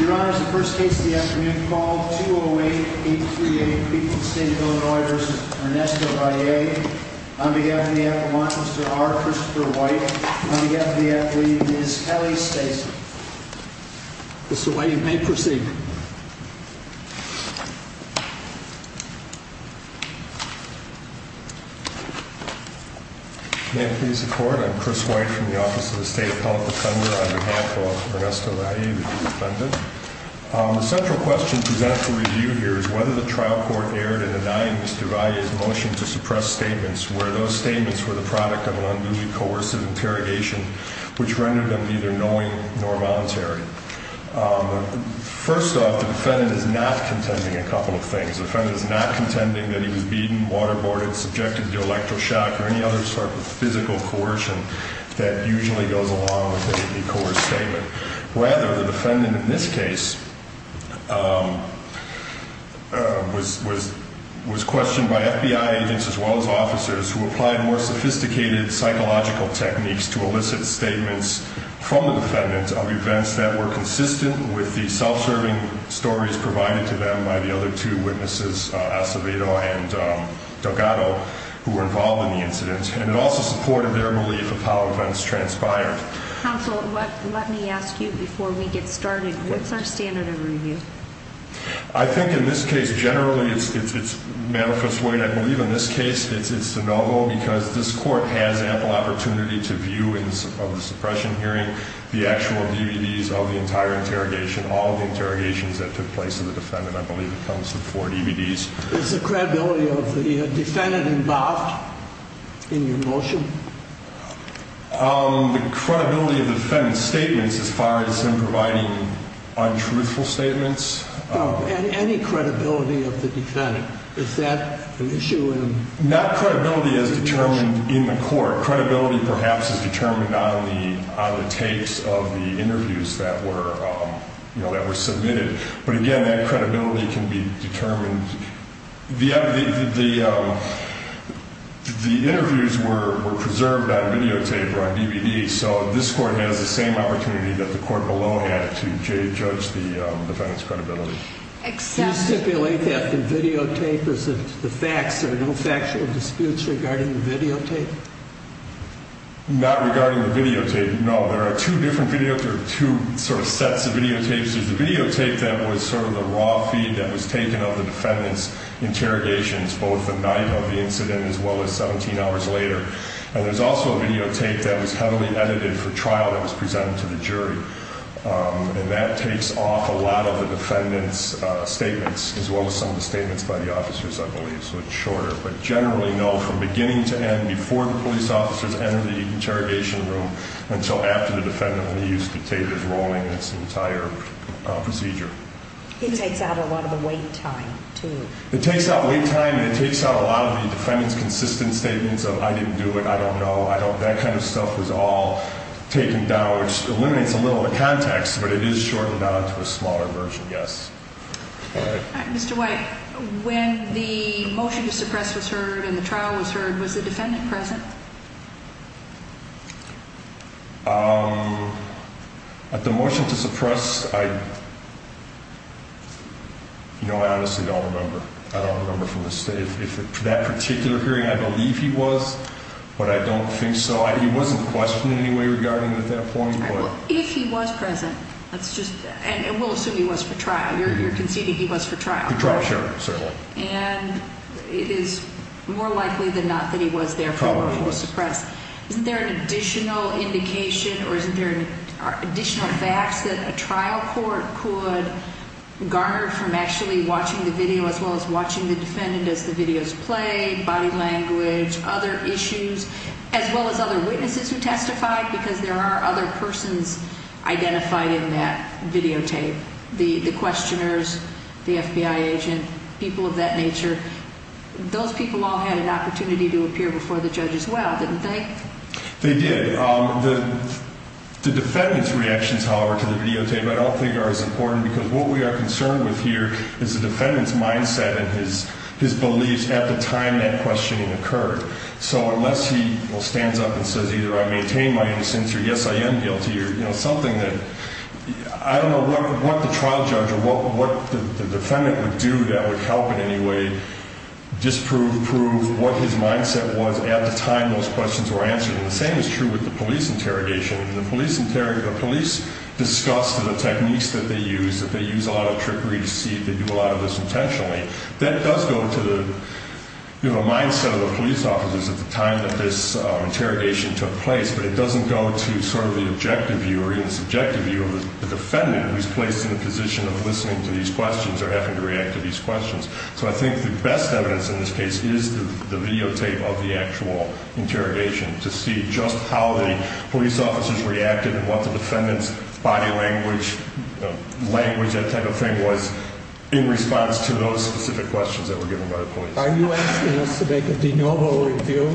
Your Honor, this is the first case of the afternoon. Call 208-838, Beacon State Illinois v. Ernesto Valle. On behalf of the applicant, Mr. R. Christopher White. On behalf of the athlete, Ms. Kelly Stayser. Mr. White, you may proceed. May it please the court, I'm Chris White from the Office of the State Appellate Defender on behalf of Ernesto Valle, the defendant. The central question presented for review here is whether the trial court erred in denying Mr. Valle's motion to suppress statements where those statements were the product of an unduly coercive interrogation which rendered them neither knowing nor voluntary. First off, the defendant is not contending a couple of things. The defendant is not contending that he was beaten, waterboarded, subjected to electroshock or any other sort of physical coercion that usually goes along with a coerced statement. Rather, the defendant in this case was questioned by FBI agents as well as officers who applied more sophisticated psychological techniques to elicit statements from the defendant of events that were consistent with the self-serving stories provided to them by the other two witnesses, Acevedo and Delgado, who were involved in the incident. And it also supported their belief of how events transpired. Counsel, let me ask you before we get started, what's our standard of review? I think in this case generally it's manifest weight. I believe in this case it's de novo because this court has ample opportunity to view of the suppression hearing the actual DVDs of the entire interrogation, all the interrogations that took place to the defendant. I believe it comes to four DVDs. Is the credibility of the defendant involved in your motion? The credibility of the defendant's statements as far as him providing untruthful statements? Any credibility of the defendant. Is that an issue in your motion? Not credibility as determined in the court. Credibility perhaps is determined on the tapes of the interviews that were submitted. But again, that credibility can be determined. The interviews were preserved on videotape or on DVD, so this court has the same opportunity that the court below had to judge the defendant's credibility. Do you stipulate that the videotape is the facts? There are no factual disputes regarding the videotape? Not regarding the videotape, no. There are two different videotapes. There are two sort of sets of videotapes. There's the videotape that was sort of the raw feed that was taken of the defendant's interrogations, both the night of the incident as well as 17 hours later. And there's also a videotape that was heavily edited for trial that was presented to the jury. And that takes off a lot of the defendant's statements as well as some of the statements by the officers, I believe. So it's shorter. But generally, no, from beginning to end, before the police officers enter the interrogation room until after the defendant used the tape that's rolling its entire procedure. It takes out a lot of the wait time, too. It takes out wait time and it takes out a lot of the defendant's consistent statements of I didn't do it, I don't know, I don't. That kind of stuff was all taken down, which eliminates a little of the context, but it is shortened down to a smaller version, yes. Mr. White, when the motion to suppress was heard and the trial was heard, was the defendant present? At the motion to suppress, I honestly don't remember. I don't remember from that particular hearing. I believe he was, but I don't think so. He wasn't questioned in any way regarding at that point. If he was present, and we'll assume he was for trial, you're conceding he was for trial. For trial, sure. And it is more likely than not that he was there for the motion to suppress. Isn't there an additional indication or isn't there additional facts that a trial court could garner from actually watching the video as well as watching the defendant as the video is played, body language, other issues, as well as other witnesses who testified? Because there are other persons identified in that videotape, the questioners, the FBI agent, people of that nature. Those people all had an opportunity to appear before the judge as well, didn't they? They did. The defendant's reactions, however, to the videotape I don't think are as important because what we are concerned with here is the defendant's mindset and his beliefs at the time that questioning occurred. So unless he stands up and says either I maintain my innocence or yes, I am guilty or something that I don't know what the trial judge or what the defendant would do that would help in any way disprove, prove what his mindset was at the time those questions were answered. And the same is true with the police interrogation. The police discuss the techniques that they use, that they use a lot of trickery to see if they do a lot of this intentionally. That does go to the mindset of the police officers at the time that this interrogation took place, but it doesn't go to sort of the objective view or even subjective view of the defendant who's placed in a position of listening to these questions or having to react to these questions. So I think the best evidence in this case is the videotape of the actual interrogation to see just how the police officers reacted and what the defendant's body language, language, that type of thing was in response to those specific questions that were given by the police. Are you asking us to make a de novo review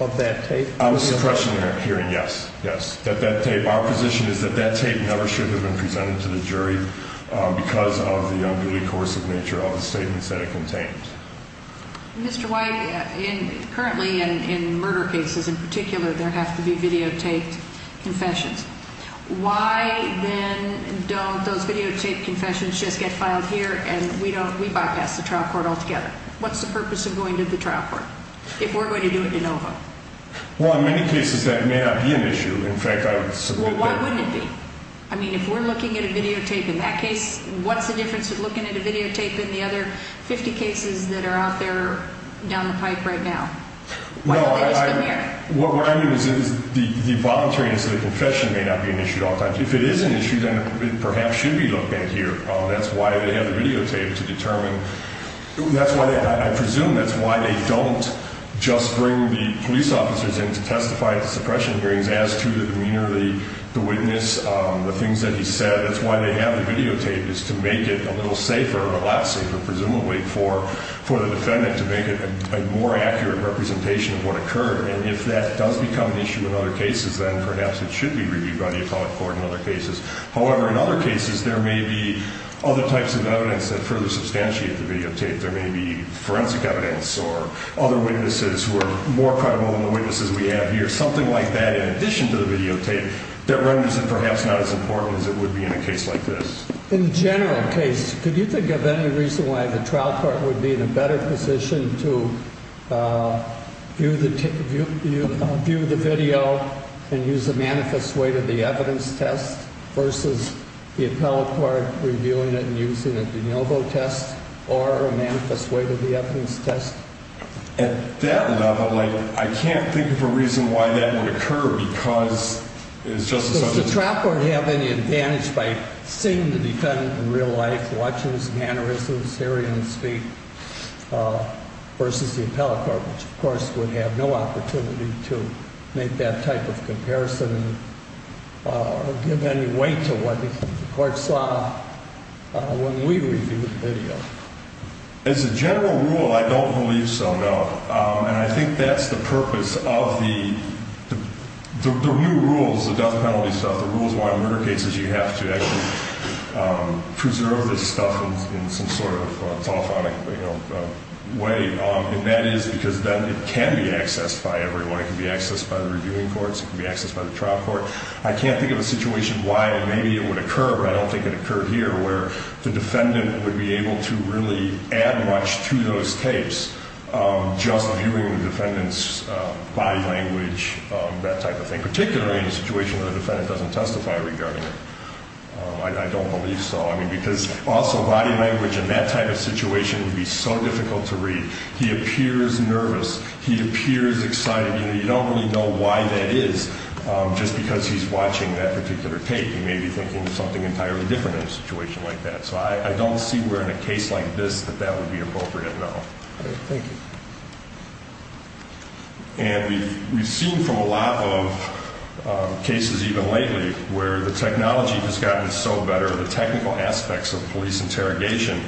of that tape? I was questioning that hearing, yes, yes. That that tape, our position is that that tape never should have been presented to the jury because of the unruly course of nature of the statements that it contained. Mr. White, currently in murder cases in particular, there have to be videotaped confessions. Why then don't those videotaped confessions just get filed here and we don't, we bypass the trial court altogether? What's the purpose of going to the trial court if we're going to do it de novo? Well, in many cases that may not be an issue. In fact, I would submit that. Well, why wouldn't it be? I mean, if we're looking at a videotape in that case, what's the difference with looking at a videotape in the other 50 cases that are out there down the pipe right now? Why don't they just come here? What I mean is the voluntariness of the confession may not be an issue at all times. If it is an issue, then it perhaps should be looked at here. That's why they have the videotape to determine. That's why I presume that's why they don't just bring the police officers in to testify at the suppression hearings as to the demeanor of the witness, the things that he said. That's why they have the videotape is to make it a little safer or a lot safer, presumably, for the defendant to make it a more accurate representation of what occurred. And if that does become an issue in other cases, then perhaps it should be reviewed by the Atomic Court in other cases. However, in other cases, there may be other types of evidence that further substantiate the videotape. There may be forensic evidence or other witnesses who are more credible than the witnesses we have here. Something like that, in addition to the videotape, that renders it perhaps not as important as it would be in a case like this. In the general case, could you think of any reason why the trial court would be in a better position to view the video and use a manifest way to the evidence test versus the appellate court reviewing it and using a de novo test or a manifest way to the evidence test? At that level, like, I can't think of a reason why that would occur because it's just a subject. Does the trial court have any advantage by seeing the defendant in real life, watching his mannerisms, hearing him speak, versus the appellate court, which, of course, would have no opportunity to make that type of comparison or give any weight to what the court saw when we reviewed the video? As a general rule, I don't believe so, no. And I think that's the purpose of the new rules, the death penalty stuff, the rules why in murder cases you have to actually preserve this stuff in some sort of telephonic way. And that is because then it can be accessed by everyone. It can be accessed by the reviewing courts. It can be accessed by the trial court. I can't think of a situation why maybe it would occur, but I don't think it occurred here, where the defendant would be able to really add much to those tapes just viewing the defendant's body language, that type of thing, particularly in a situation where the defendant doesn't testify regarding it. I don't believe so. I mean, because also body language in that type of situation would be so difficult to read. He appears nervous. He appears excited. You don't really know why that is just because he's watching that particular tape. He may be thinking something entirely different in a situation like that. So I don't see where in a case like this that that would be appropriate, no. Thank you. And we've seen from a lot of cases even lately where the technology has gotten so better, the technical aspects of police interrogation,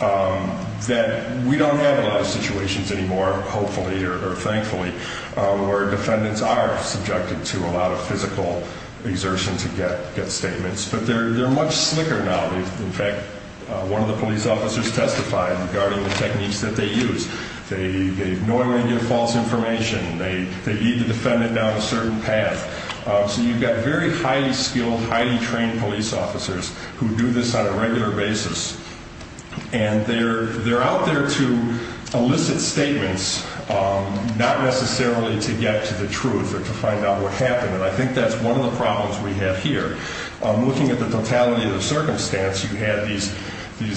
that we don't have a lot of situations anymore, hopefully or thankfully, where defendants are subjected to a lot of physical exertion to get statements. But they're much slicker now. In fact, one of the police officers testified regarding the techniques that they use. They ignore any false information. They lead the defendant down a certain path. So you've got very highly skilled, highly trained police officers who do this on a regular basis. And they're out there to elicit statements, not necessarily to get to the truth or to find out what happened. And I think that's one of the problems we have here. Looking at the totality of the circumstance, you had these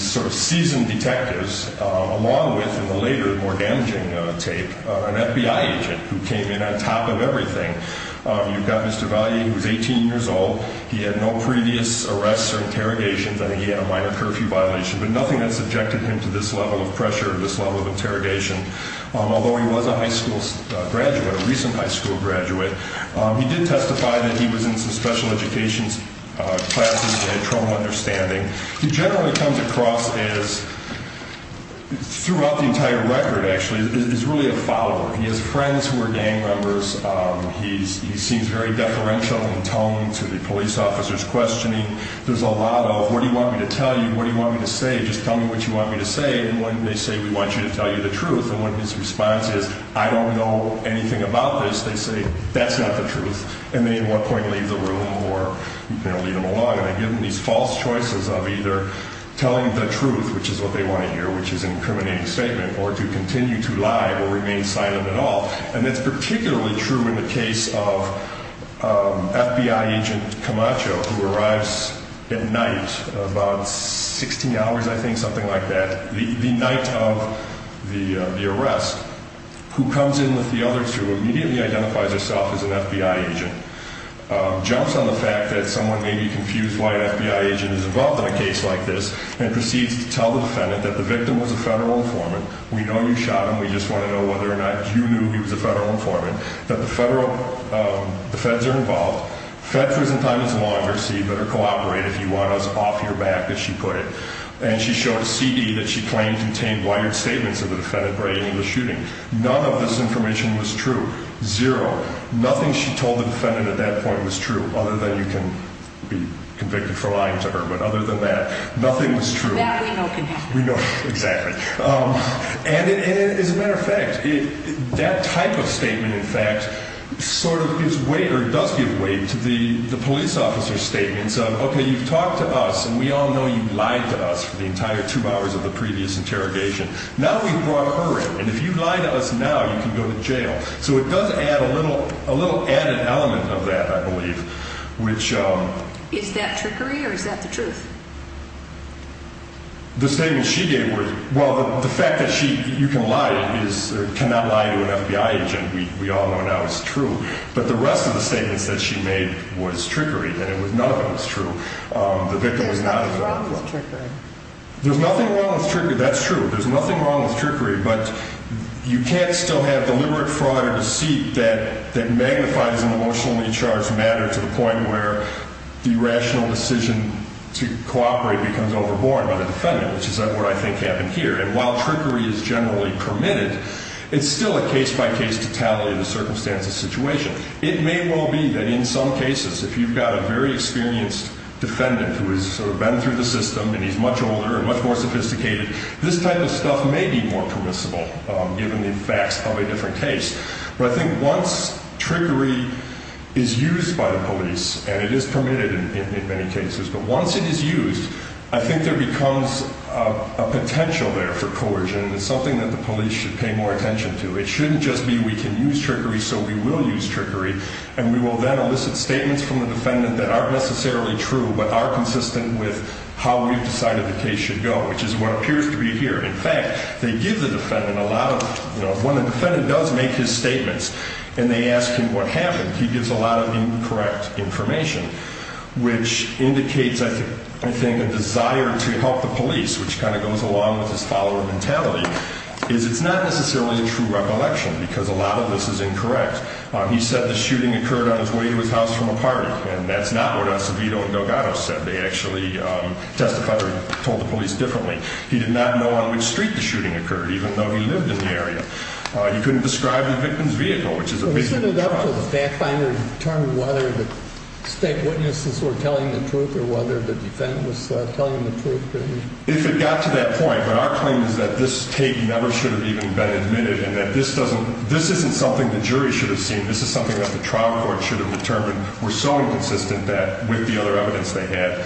sort of seasoned detectives along with, in the later, more damaging tape, an FBI agent who came in on top of everything. You've got Mr. Valle, who's 18 years old. He had no previous arrests or interrogations. I think he had a minor curfew violation. But nothing that subjected him to this level of pressure, this level of interrogation. Although he was a high school graduate, a recent high school graduate, he did testify that he was in some special education classes and had trouble understanding. He generally comes across as, throughout the entire record, actually, as really a follower. He has friends who are gang members. He seems very deferential in tone to the police officers questioning. There's a lot of, what do you want me to tell you? What do you want me to say? Just tell me what you want me to say. And when they say, we want you to tell you the truth, and when his response is, I don't know anything about this, they say, that's not the truth. And they, at one point, leave the room or lead him along. And they give him these false choices of either telling the truth, which is what they want to hear, which is an incriminating statement, or to continue to lie or remain silent at all. And it's particularly true in the case of FBI agent Camacho, who arrives at night, about 16 hours, I think, something like that, the night of the arrest, who comes in with the other two, immediately identifies herself as an FBI agent, jumps on the fact that someone may be confused why an FBI agent is involved in a case like this, and proceeds to tell the defendant that the victim was a federal informant. We know you shot him. We just want to know whether or not you knew he was a federal informant. That the federal, the feds are involved. Fed prison time is longer, so you better cooperate if you want us off your back, as she put it. And she showed a CD that she claimed contained wired statements of the defendant bringing the shooting. None of this information was true. Zero. Nothing she told the defendant at that point was true, other than you can be convicted for lying to her. But other than that, nothing was true. That we know can happen. We know. Exactly. And as a matter of fact, that type of statement, in fact, sort of gives weight or does give weight to the police officer's statements of, okay, you've talked to us, and we all know you lied to us for the entire two hours of the previous interrogation. Now we've brought her in, and if you lie to us now, you can go to jail. So it does add a little added element of that, I believe. Is that trickery, or is that the truth? The statement she gave was, well, the fact that you can lie cannot lie to an FBI agent. We all know now it's true. But the rest of the statements that she made was trickery, and none of them was true. The victim was not a victim. There's nothing wrong with trickery. There's nothing wrong with trickery. That's true. There's nothing wrong with trickery. But you can't still have deliberate fraud or deceit that magnifies an emotionally charged matter to the point where the rational decision to cooperate becomes overborne by the defendant, which is what I think happened here. And while trickery is generally permitted, it's still a case-by-case, totality-of-circumstances situation. It may well be that in some cases, if you've got a very experienced defendant who has sort of been through the system, and he's much older and much more sophisticated, this type of stuff may be more permissible, given the effects of a different case. But I think once trickery is used by the police, and it is permitted in many cases, but once it is used, I think there becomes a potential there for coercion, and it's something that the police should pay more attention to. It shouldn't just be we can use trickery, so we will use trickery, and we will then elicit statements from the defendant that aren't necessarily true but are consistent with how we've decided the case should go, which is what appears to be here. In fact, they give the defendant a lot of, you know, when the defendant does make his statements and they ask him what happened, he gives a lot of incorrect information, which indicates, I think, a desire to help the police, which kind of goes along with his follower mentality, is it's not necessarily a true recollection because a lot of this is incorrect. He said the shooting occurred on his way to his house from a party, and that's not what Acevedo and Delgado said. They actually testified or told the police differently. He did not know on which street the shooting occurred, even though he lived in the area. He couldn't describe the victim's vehicle, which is a victim of drugs. So he stood up to the fact finder and determined whether the state witnesses were telling the truth or whether the defendant was telling the truth, didn't he? If it got to that point, but our claim is that this tape never should have even been admitted and that this isn't something the jury should have seen. This is something that the trial court should have determined were so inconsistent with the other evidence they had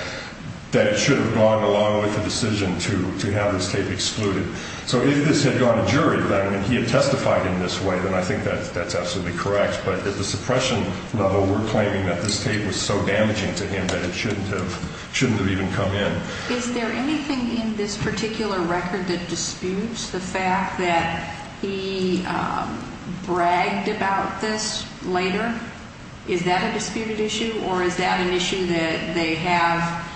that it should have gone along with the decision to have this tape excluded. So if this had gone to jury, that he had testified in this way, then I think that's absolutely correct. But at the suppression level, we're claiming that this tape was so damaging to him that it shouldn't have even come in. Is there anything in this particular record that disputes the fact that he bragged about this later? Is that a disputed issue or is that an issue that they have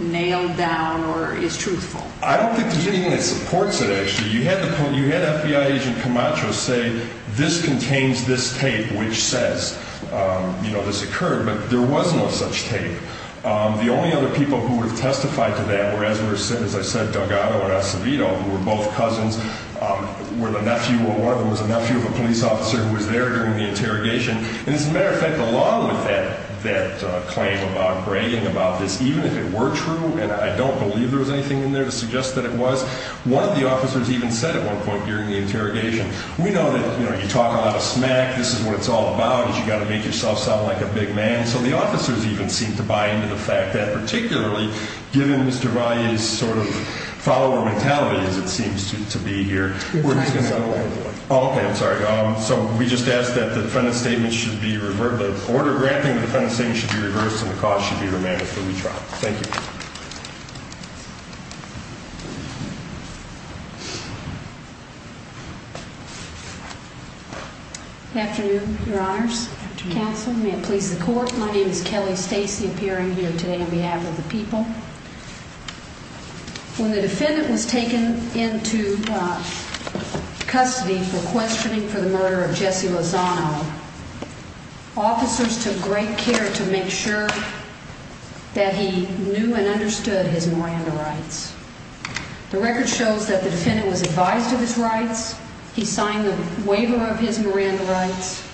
nailed down or is truthful? I don't think there's anything that supports it, actually. You had FBI agent Camacho say this contains this tape, which says this occurred, but there was no such tape. The only other people who have testified to that were, as I said, Delgado and Acevedo, who were both cousins. One of them was the nephew of a police officer who was there during the interrogation. And as a matter of fact, along with that claim about bragging about this, even if it were true, and I don't believe there was anything in there to suggest that it was, one of the officers even said at one point during the interrogation, we know that you talk a lot of smack, this is what it's all about, you've got to make yourself sound like a big man. So the officers even seem to buy into the fact that particularly, given Mr. Valle's sort of follower mentality as it seems to be here, we're just going to go all the way. Okay, I'm sorry. So we just ask that the defendant's statement should be reversed, the order of granting the defendant's statement should be reversed, and the cost should be remanded for retrial. Thank you. Good afternoon, Your Honors, Counsel, may it please the Court. My name is Kelly Stacey, appearing here today on behalf of the people. When the defendant was taken into custody for questioning for the murder of Jesse Lozano, officers took great care to make sure that he knew and understood his Miranda rights. The record shows that the defendant was advised of his rights, he signed the waiver of his Miranda rights,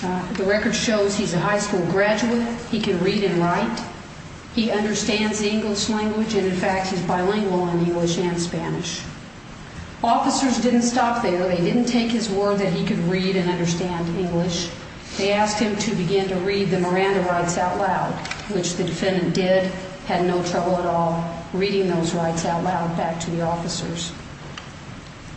the record shows he's a high school graduate, he can read and write, he understands the English language and, in fact, he's bilingual in English and Spanish. Officers didn't stop there. They didn't take his word that he could read and understand English. They asked him to begin to read the Miranda rights out loud, which the defendant did, had no trouble at all reading those rights out loud back to the officers.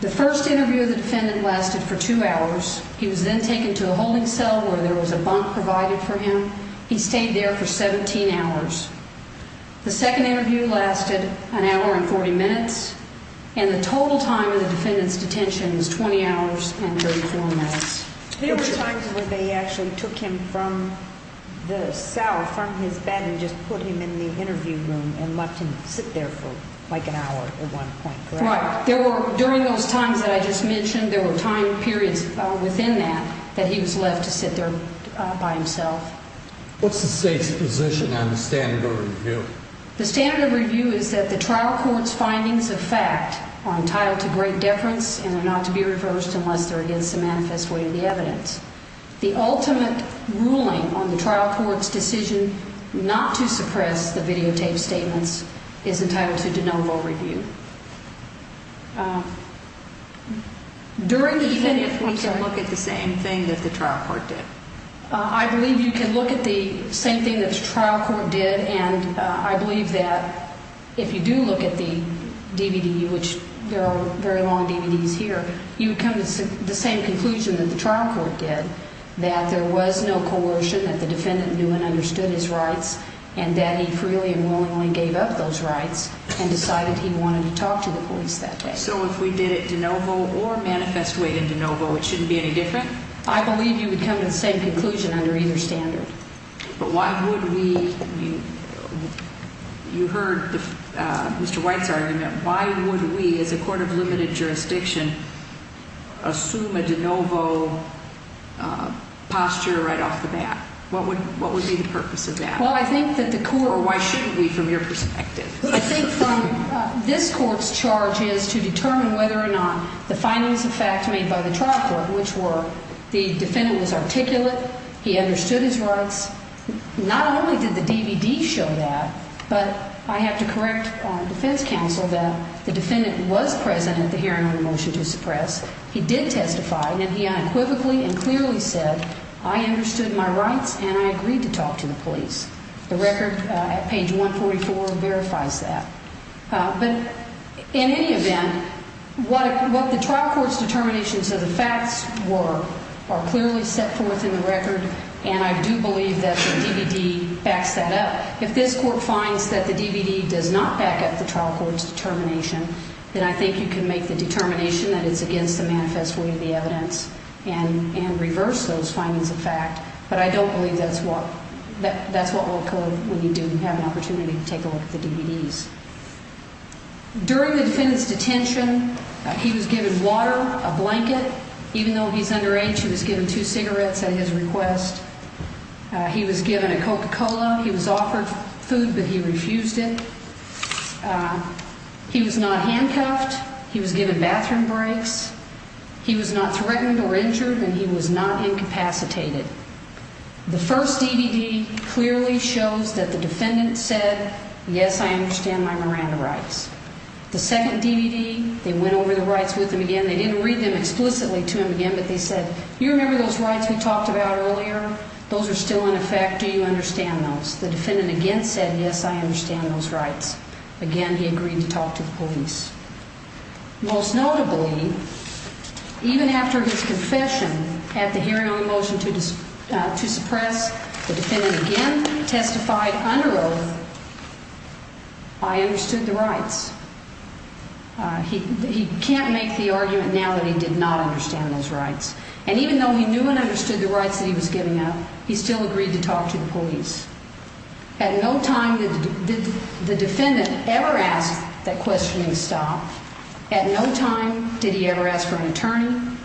The first interview of the defendant lasted for two hours. He was then taken to a holding cell where there was a bunk provided for him. He stayed there for 17 hours. The second interview lasted an hour and 40 minutes, and the total time of the defendant's detention was 20 hours and 34 minutes. There were times when they actually took him from the cell, from his bed, and just put him in the interview room and left him sit there for like an hour at one point, correct? Right. There were, during those times that I just mentioned, there were time periods within that that he was left to sit there by himself. What's the state's position on the standard of review? The standard of review is that the trial court's findings of fact are entitled to great deference and are not to be reversed unless they're against the manifest way of the evidence. The ultimate ruling on the trial court's decision not to suppress the videotaped statements is entitled to de novo review. During the defendant's... Even if we can look at the same thing that the trial court did? I believe you can look at the same thing that the trial court did, and I believe that if you do look at the DVD, which there are very long DVDs here, you would come to the same conclusion that the trial court did, that there was no coercion, that the defendant knew and understood his rights, and that he freely and willingly gave up those rights and decided he wanted to talk to the police that day. So if we did it de novo or manifest way de novo, it shouldn't be any different? I believe you would come to the same conclusion under either standard. But why would we... You heard Mr. White's argument. Why would we, as a court of limited jurisdiction, assume a de novo posture right off the bat? What would be the purpose of that? Well, I think that the court... Or why shouldn't we, from your perspective? I think this court's charge is to determine whether or not the findings of fact made by the trial court, which were the defendant was articulate, he understood his rights. Not only did the DVD show that, but I have to correct defense counsel that the defendant was present at the hearing on the motion to suppress. He did testify, and he unequivocally and clearly said, I understood my rights and I agreed to talk to the police. The record at page 144 verifies that. But in any event, what the trial court's determinations of the facts were are clearly set forth in the record, and I do believe that the DVD backs that up. If this court finds that the DVD does not back up the trial court's determination, then I think you can make the determination that it's against the manifest way of the evidence and reverse those findings of fact. But I don't believe that's what will occur when you do have an opportunity to take a look at the DVDs. During the defendant's detention, he was given water, a blanket. Even though he's underage, he was given two cigarettes at his request. He was given a Coca-Cola. He was offered food, but he refused it. He was not handcuffed. He was given bathroom breaks. He was not threatened or injured, and he was not incapacitated. The first DVD clearly shows that the defendant said, yes, I understand my Miranda rights. The second DVD, they went over the rights with him again. They didn't read them explicitly to him again, but they said, you remember those rights we talked about earlier? Those are still in effect. Do you understand those? The defendant again said, yes, I understand those rights. Again, he agreed to talk to the police. Most notably, even after his confession at the hearing on the motion to suppress, the defendant again testified under oath, I understood the rights. He can't make the argument now that he did not understand those rights. And even though he knew and understood the rights that he was giving up, he still agreed to talk to the police. At no time did the defendant ever ask that questioning stop. At no time did he ever ask for an attorney.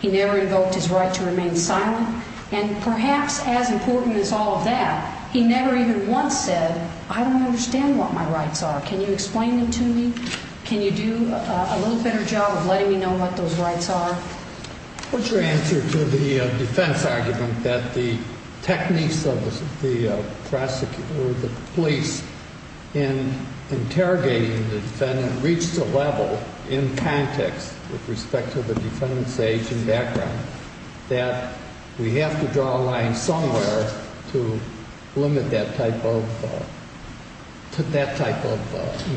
He never invoked his right to remain silent. And perhaps as important as all of that, he never even once said, I don't understand what my rights are. Can you explain them to me? Can you do a little better job of letting me know what those rights are? What's your answer to the defense argument that the techniques of the police in interrogating the defendant reached a level in context with respect to the defendant's age and background that we have to draw a line somewhere to limit that type of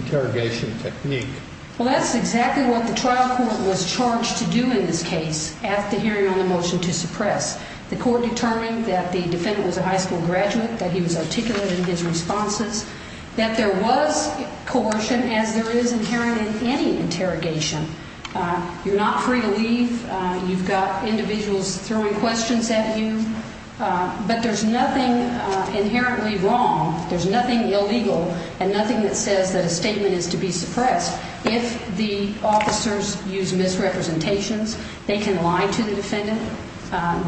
interrogation technique? Well, that's exactly what the trial court was charged to do in this case at the hearing on the motion to suppress. The court determined that the defendant was a high school graduate, that he was articulate in his responses, that there was coercion as there is inherent in any interrogation. You're not free to leave. You've got individuals throwing questions at you. But there's nothing inherently wrong. There's nothing illegal and nothing that says that a statement is to be suppressed. If the officers use misrepresentations, they can lie to the defendant.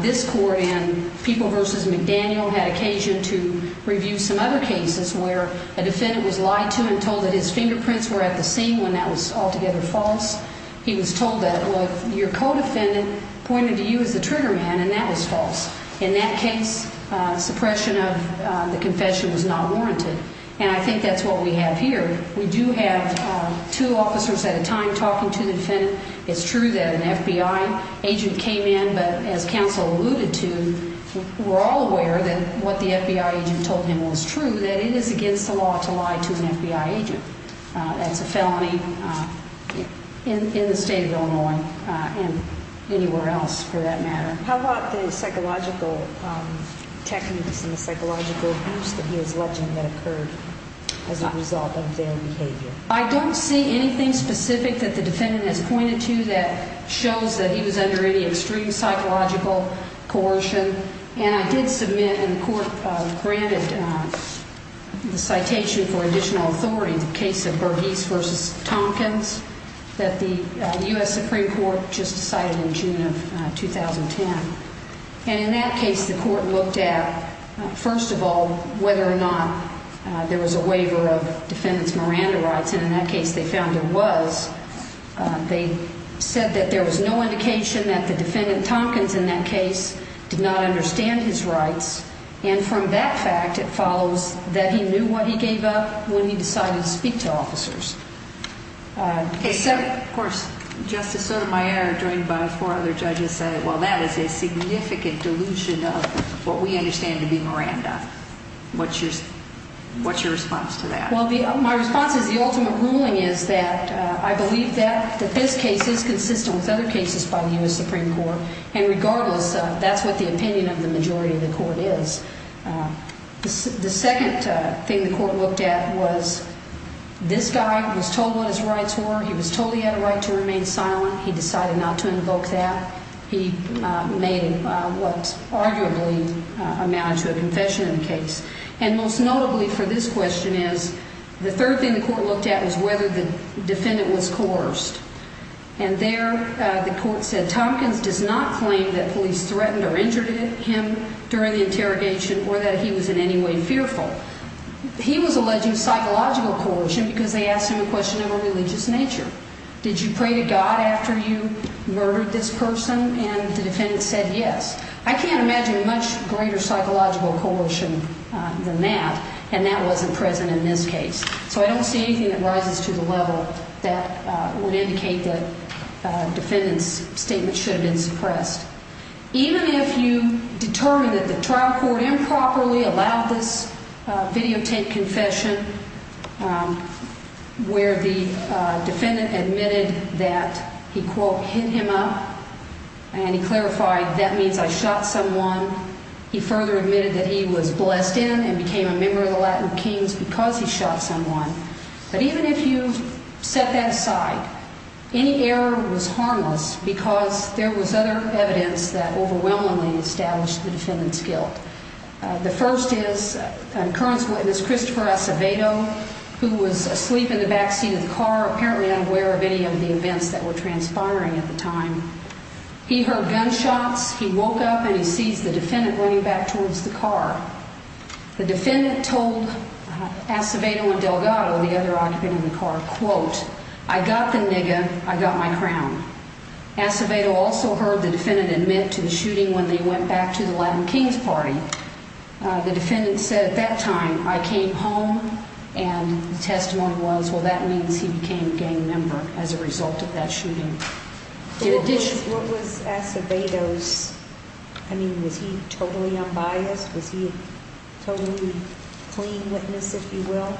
This court in People v. McDaniel had occasion to review some other cases where a defendant was lied to and told that his fingerprints were at the scene when that was altogether false. He was told that your co-defendant pointed to you as the trigger man, and that was false. In that case, suppression of the confession was not warranted. And I think that's what we have here. We do have two officers at a time talking to the defendant. It's true that an FBI agent came in, but as counsel alluded to, we're all aware that what the FBI agent told him was true, that it is against the law to lie to an FBI agent. That's a felony in the state of Illinois and anywhere else for that matter. How about the psychological techniques and the psychological abuse that he was alleging that occurred as a result of their behavior? I don't see anything specific that the defendant has pointed to that shows that he was under any extreme psychological coercion. And I did submit and the court granted the citation for additional authority in the case of Burgess v. Tompkins that the U.S. Supreme Court just decided in June of 2010. And in that case, the court looked at, first of all, whether or not there was a waiver of defendant's Miranda rights, and in that case they found there was. They said that there was no indication that the defendant, Tompkins, in that case, did not understand his rights. And from that fact, it follows that he knew what he gave up when he decided to speak to officers. Of course, Justice Sotomayor, joined by four other judges, said, well, that is a significant delusion of what we understand to be Miranda. What's your response to that? Well, my response is the ultimate ruling is that I believe that this case is consistent with other cases by the U.S. Supreme Court. And regardless, that's what the opinion of the majority of the court is. The second thing the court looked at was this guy was told what his rights were. He was told he had a right to remain silent. He decided not to invoke that. He made what arguably amounted to a confession in the case. And most notably for this question is the third thing the court looked at was whether the defendant was coerced. And there the court said Tompkins does not claim that police threatened or injured him during the interrogation or that he was in any way fearful. He was alleging psychological coercion because they asked him a question of a religious nature. Did you pray to God after you murdered this person? And the defendant said yes. I can't imagine much greater psychological coercion than that, and that wasn't present in this case. So I don't see anything that rises to the level that would indicate that the defendant's statement should have been suppressed. Even if you determine that the trial court improperly allowed this videotaped confession where the defendant admitted that he, quote, And he clarified that means I shot someone. He further admitted that he was blessed in and became a member of the Latin Kings because he shot someone. But even if you set that aside, any error was harmless because there was other evidence that overwhelmingly established the defendant's guilt. The first is current witness Christopher Acevedo, who was asleep in the backseat of the car, apparently unaware of any of the events that were transpiring at the time. He heard gunshots. He woke up and he sees the defendant running back towards the car. The defendant told Acevedo and Delgado, the other occupant in the car, quote, I got the nigga. I got my crown. Acevedo also heard the defendant admit to the shooting when they went back to the Latin Kings party. The defendant said at that time I came home and the testimony was, well, that means he became a gang member as a result of that shooting. What was Acevedo's, I mean, was he totally unbiased? Was he a totally clean witness, if you will?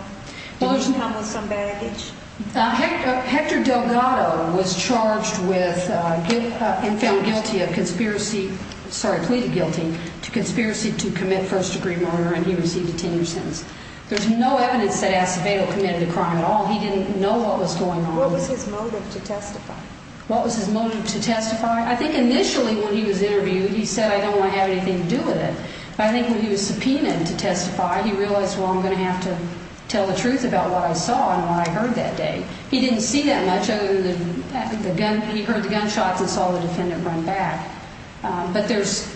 Did he come with some baggage? Hector Delgado was charged with and found guilty of conspiracy, sorry, pleaded guilty to conspiracy to commit first degree murder, and he received a 10-year sentence. There's no evidence that Acevedo committed a crime at all. He didn't know what was going on. What was his motive to testify? What was his motive to testify? I think initially when he was interviewed, he said I don't want to have anything to do with it. But I think when he was subpoenaed to testify, he realized, well, I'm going to have to tell the truth about what I saw and what I heard that day. He didn't see that much other than he heard the gunshots and saw the defendant run back. But there's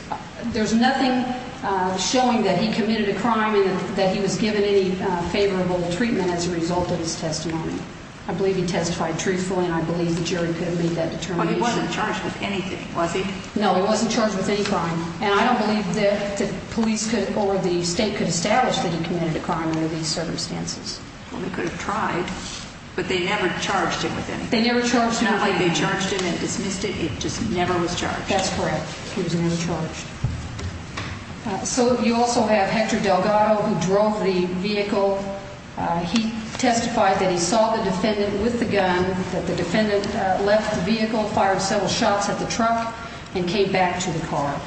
nothing showing that he committed a crime and that he was given any favorable treatment as a result of his testimony. I believe he testified truthfully, and I believe the jury could have made that determination. Well, he wasn't charged with anything, was he? No, he wasn't charged with any crime. And I don't believe that police could or the state could establish that he committed a crime under these circumstances. Well, they could have tried, but they never charged him with anything. They never charged him with anything. Not like they charged him and dismissed it. It just never was charged. That's correct. He was never charged. So you also have Hector Delgado, who drove the vehicle. He testified that he saw the defendant with the gun, that the defendant left the vehicle, fired several shots at the truck, and came back to the car.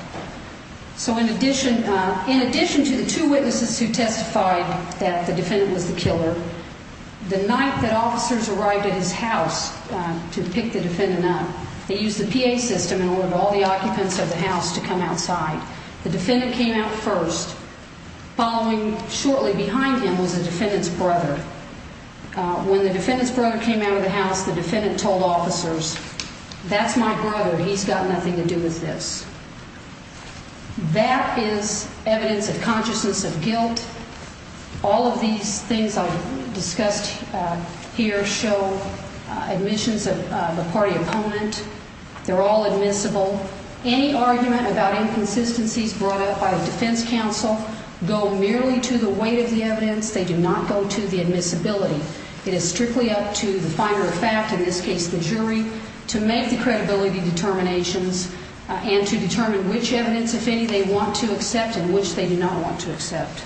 So in addition to the two witnesses who testified that the defendant was the killer, the night that officers arrived at his house to pick the defendant up, they used the PA system in order for all the occupants of the house to come outside. The defendant came out first. Following shortly behind him was the defendant's brother. When the defendant's brother came out of the house, the defendant told officers, that's my brother, he's got nothing to do with this. That is evidence of consciousness of guilt. All of these things I've discussed here show admissions of the party opponent. They're all admissible. Any argument about inconsistencies brought up by a defense counsel go merely to the weight of the evidence. They do not go to the admissibility. It is strictly up to the finder of fact, in this case the jury, to make the credibility determinations and to determine which evidence, if any, they want to accept and which they do not want to accept.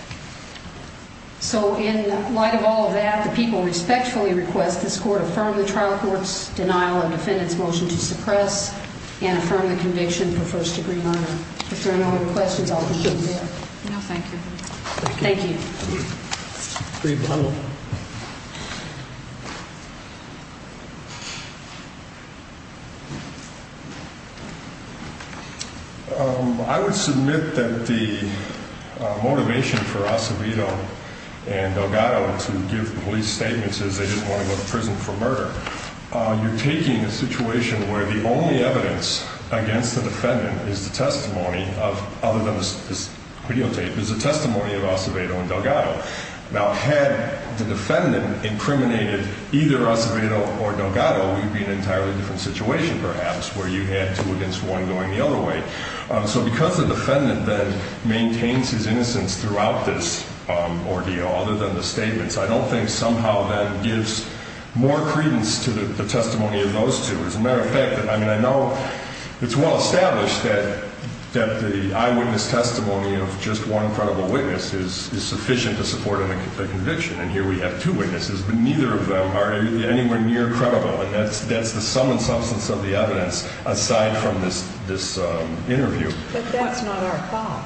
So in light of all of that, the people respectfully request this court affirm the trial court's denial of the defendant's motion to suppress and affirm the conviction for first degree murder. If there are no other questions, I'll conclude there. No, thank you. Thank you. I would submit that the motivation for Acevedo and Delgado to give police statements is they didn't want to go to prison for murder. You're taking a situation where the only evidence against the defendant is the testimony of, other than this videotape, is the testimony of Acevedo and Delgado. Now, had the defendant incriminated either Acevedo or Delgado, we'd be in an entirely different situation, perhaps, where you had two against one going the other way. So because the defendant then maintains his innocence throughout this ordeal, other than the statements, I don't think somehow that gives more credence to the testimony of those two. As a matter of fact, I mean, I know it's well established that the eyewitness testimony of just one credible witness is sufficient to support a conviction. And here we have two witnesses, but neither of them are anywhere near credible. That's the sum and substance of the evidence, aside from this interview. But that's not our fault.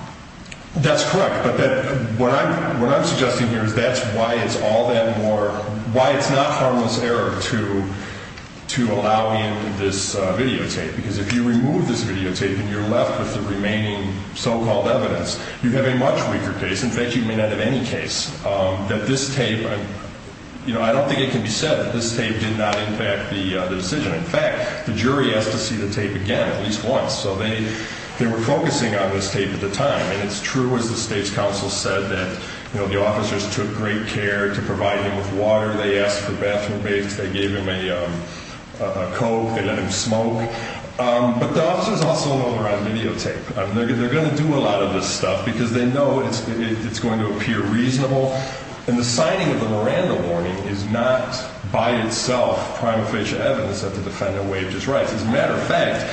That's correct. But what I'm suggesting here is that's why it's all that more, why it's not harmless error to allow in this videotape, because if you remove this videotape and you're left with the remaining so-called evidence, you have a much weaker case. In fact, you may not have any case that this tape, you know, I don't think it can be said that this tape did not impact the decision. In fact, the jury has to see the tape again at least once. So they were focusing on this tape at the time. And it's true, as the state's counsel said, that, you know, the officers took great care to provide him with water. They asked for bathroom baths. They gave him a Coke. They let him smoke. But the officers also know they're on videotape. They're going to do a lot of this stuff because they know it's going to appear reasonable. And the signing of the Miranda warning is not by itself prima facie evidence that the defendant waived his rights. As a matter of fact.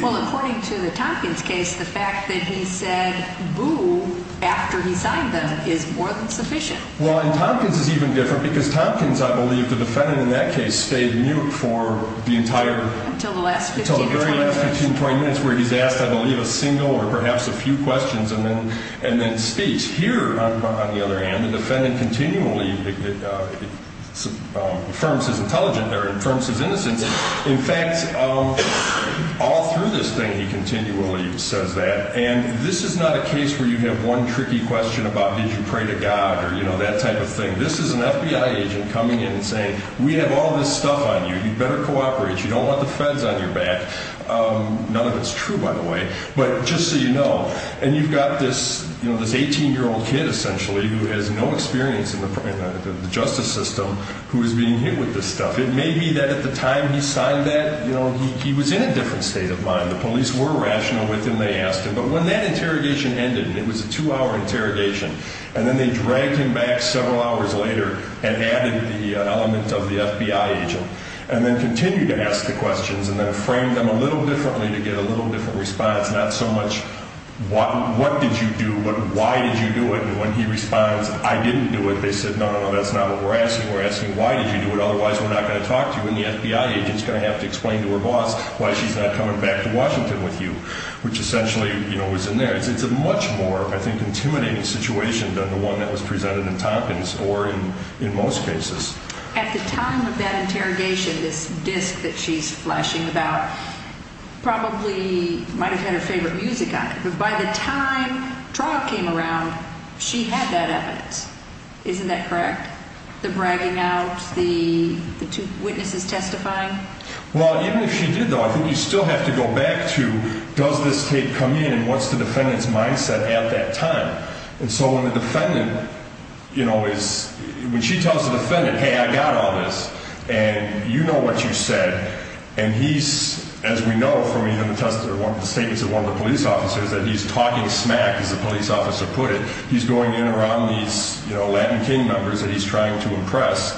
Well, according to the Tompkins case, the fact that he said boo after he signed them is more than sufficient. Well, and Tompkins is even different because Tompkins, I believe, the defendant in that case stayed mute for the entire. Until the last 15 or 20 minutes. Until the very last 15 or 20 minutes where he's asked, I believe, a single or perhaps a few questions and then speech. Here, on the other hand, the defendant continually affirms his intelligence or affirms his innocence. In fact, all through this thing, he continually says that. And this is not a case where you have one tricky question about did you pray to God or, you know, that type of thing. This is an FBI agent coming in and saying we have all this stuff on you. You better cooperate. You don't want the feds on your back. None of it's true, by the way. But just so you know. And you've got this, you know, this 18-year-old kid, essentially, who has no experience in the justice system who is being hit with this stuff. It may be that at the time he signed that, you know, he was in a different state of mind. The police were rational with him. They asked him. But when that interrogation ended, and it was a two-hour interrogation, and then they dragged him back several hours later and added the element of the FBI agent and then continued to ask the questions and then framed them a little differently to get a little different response. Not so much what did you do, but why did you do it? And when he responds, I didn't do it, they said, no, no, no, that's not what we're asking. We're asking why did you do it. Otherwise, we're not going to talk to you, and the FBI agent's going to have to explain to her boss why she's not coming back to Washington with you, which essentially, you know, was in there. It's a much more, I think, intimidating situation than the one that was presented in Tompkins or in most cases. At the time of that interrogation, this disc that she's flashing about probably might have had her favorite music on it. But by the time Traub came around, she had that evidence. Isn't that correct? The bragging out, the two witnesses testifying? Well, even if she did, though, I think you still have to go back to does this tape come in and what's the defendant's mindset at that time? And so when the defendant, you know, is, when she tells the defendant, hey, I got all this, and you know what you said, and he's, as we know from even the statements of one of the police officers, that he's talking smack, as the police officer put it. He's going in around these, you know, Latin King members that he's trying to impress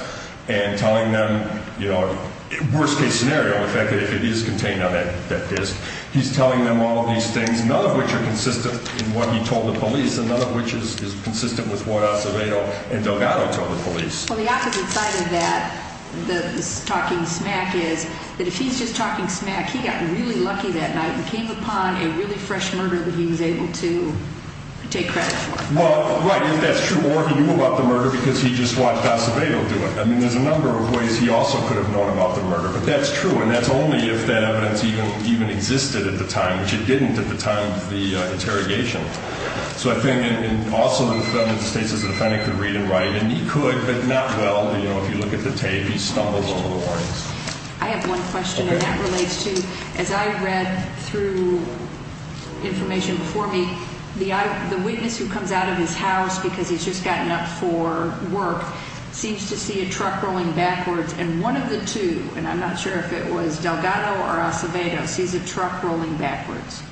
and telling them, you know, worst case scenario, the fact that it is contained on that disc. He's telling them all of these things, none of which are consistent in what he told the police, and none of which is consistent with what Acevedo and Delgado told the police. Well, the opposite side of that, the talking smack, is that if he's just talking smack, he got really lucky that night and came upon a really fresh murder that he was able to take credit for. Well, right, if that's true, or he knew about the murder because he just watched Acevedo do it. I mean, there's a number of ways he also could have known about the murder, but that's true, and that's only if that evidence even existed at the time, which it didn't at the time of the interrogation. So I think also the defendant states as a defendant could read and write, and he could, but not well. You know, if you look at the tape, he stumbles over the lines. I have one question, and that relates to, as I read through information before me, the witness who comes out of his house because he's just gotten up for work seems to see a truck rolling backwards, and one of the two, and I'm not sure if it was Delgado or Acevedo, sees a truck rolling backwards.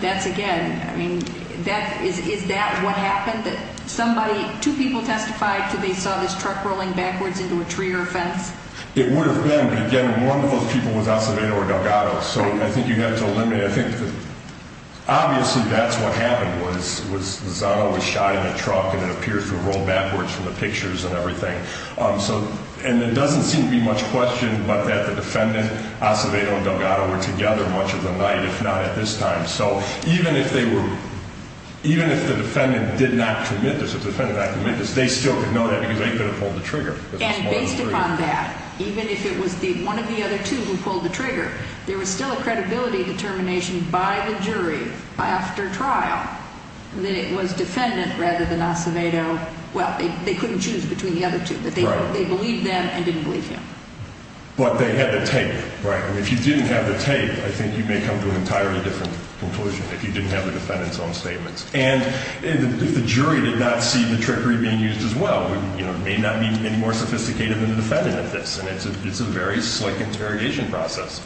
That's, again, I mean, is that what happened? That somebody, two people testified that they saw this truck rolling backwards into a tree or a fence? It would have been, but again, one of those people was Acevedo or Delgado, so I think you have to eliminate. I think obviously that's what happened was Zano was shot in the truck, and it appears to have rolled backwards from the pictures and everything. And it doesn't seem to be much question but that the defendant, Acevedo, and Delgado were together much of the night, if not at this time. So even if they were, even if the defendant did not commit this, if the defendant did not commit this, they still could know that because they could have pulled the trigger. And based upon that, even if it was one of the other two who pulled the trigger, there was still a credibility determination by the jury after trial that it was defendant rather than Acevedo. Well, they couldn't choose between the other two, but they believed them and didn't believe him. But they had the tape. Right. If you didn't have the tape, I think you may come to an entirely different conclusion if you didn't have the defendant's own statements. And if the jury did not see the trickery being used as well, it may not be any more sophisticated than the defendant at this, and it's a very slick interrogation process.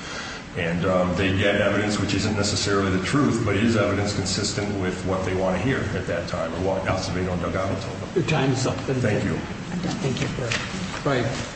And they get evidence which isn't necessarily the truth, but it is evidence consistent with what they want to hear at that time, or what Acevedo and Delgado told them. Your time is up. Thank you. Thank you. Thank you. Bye.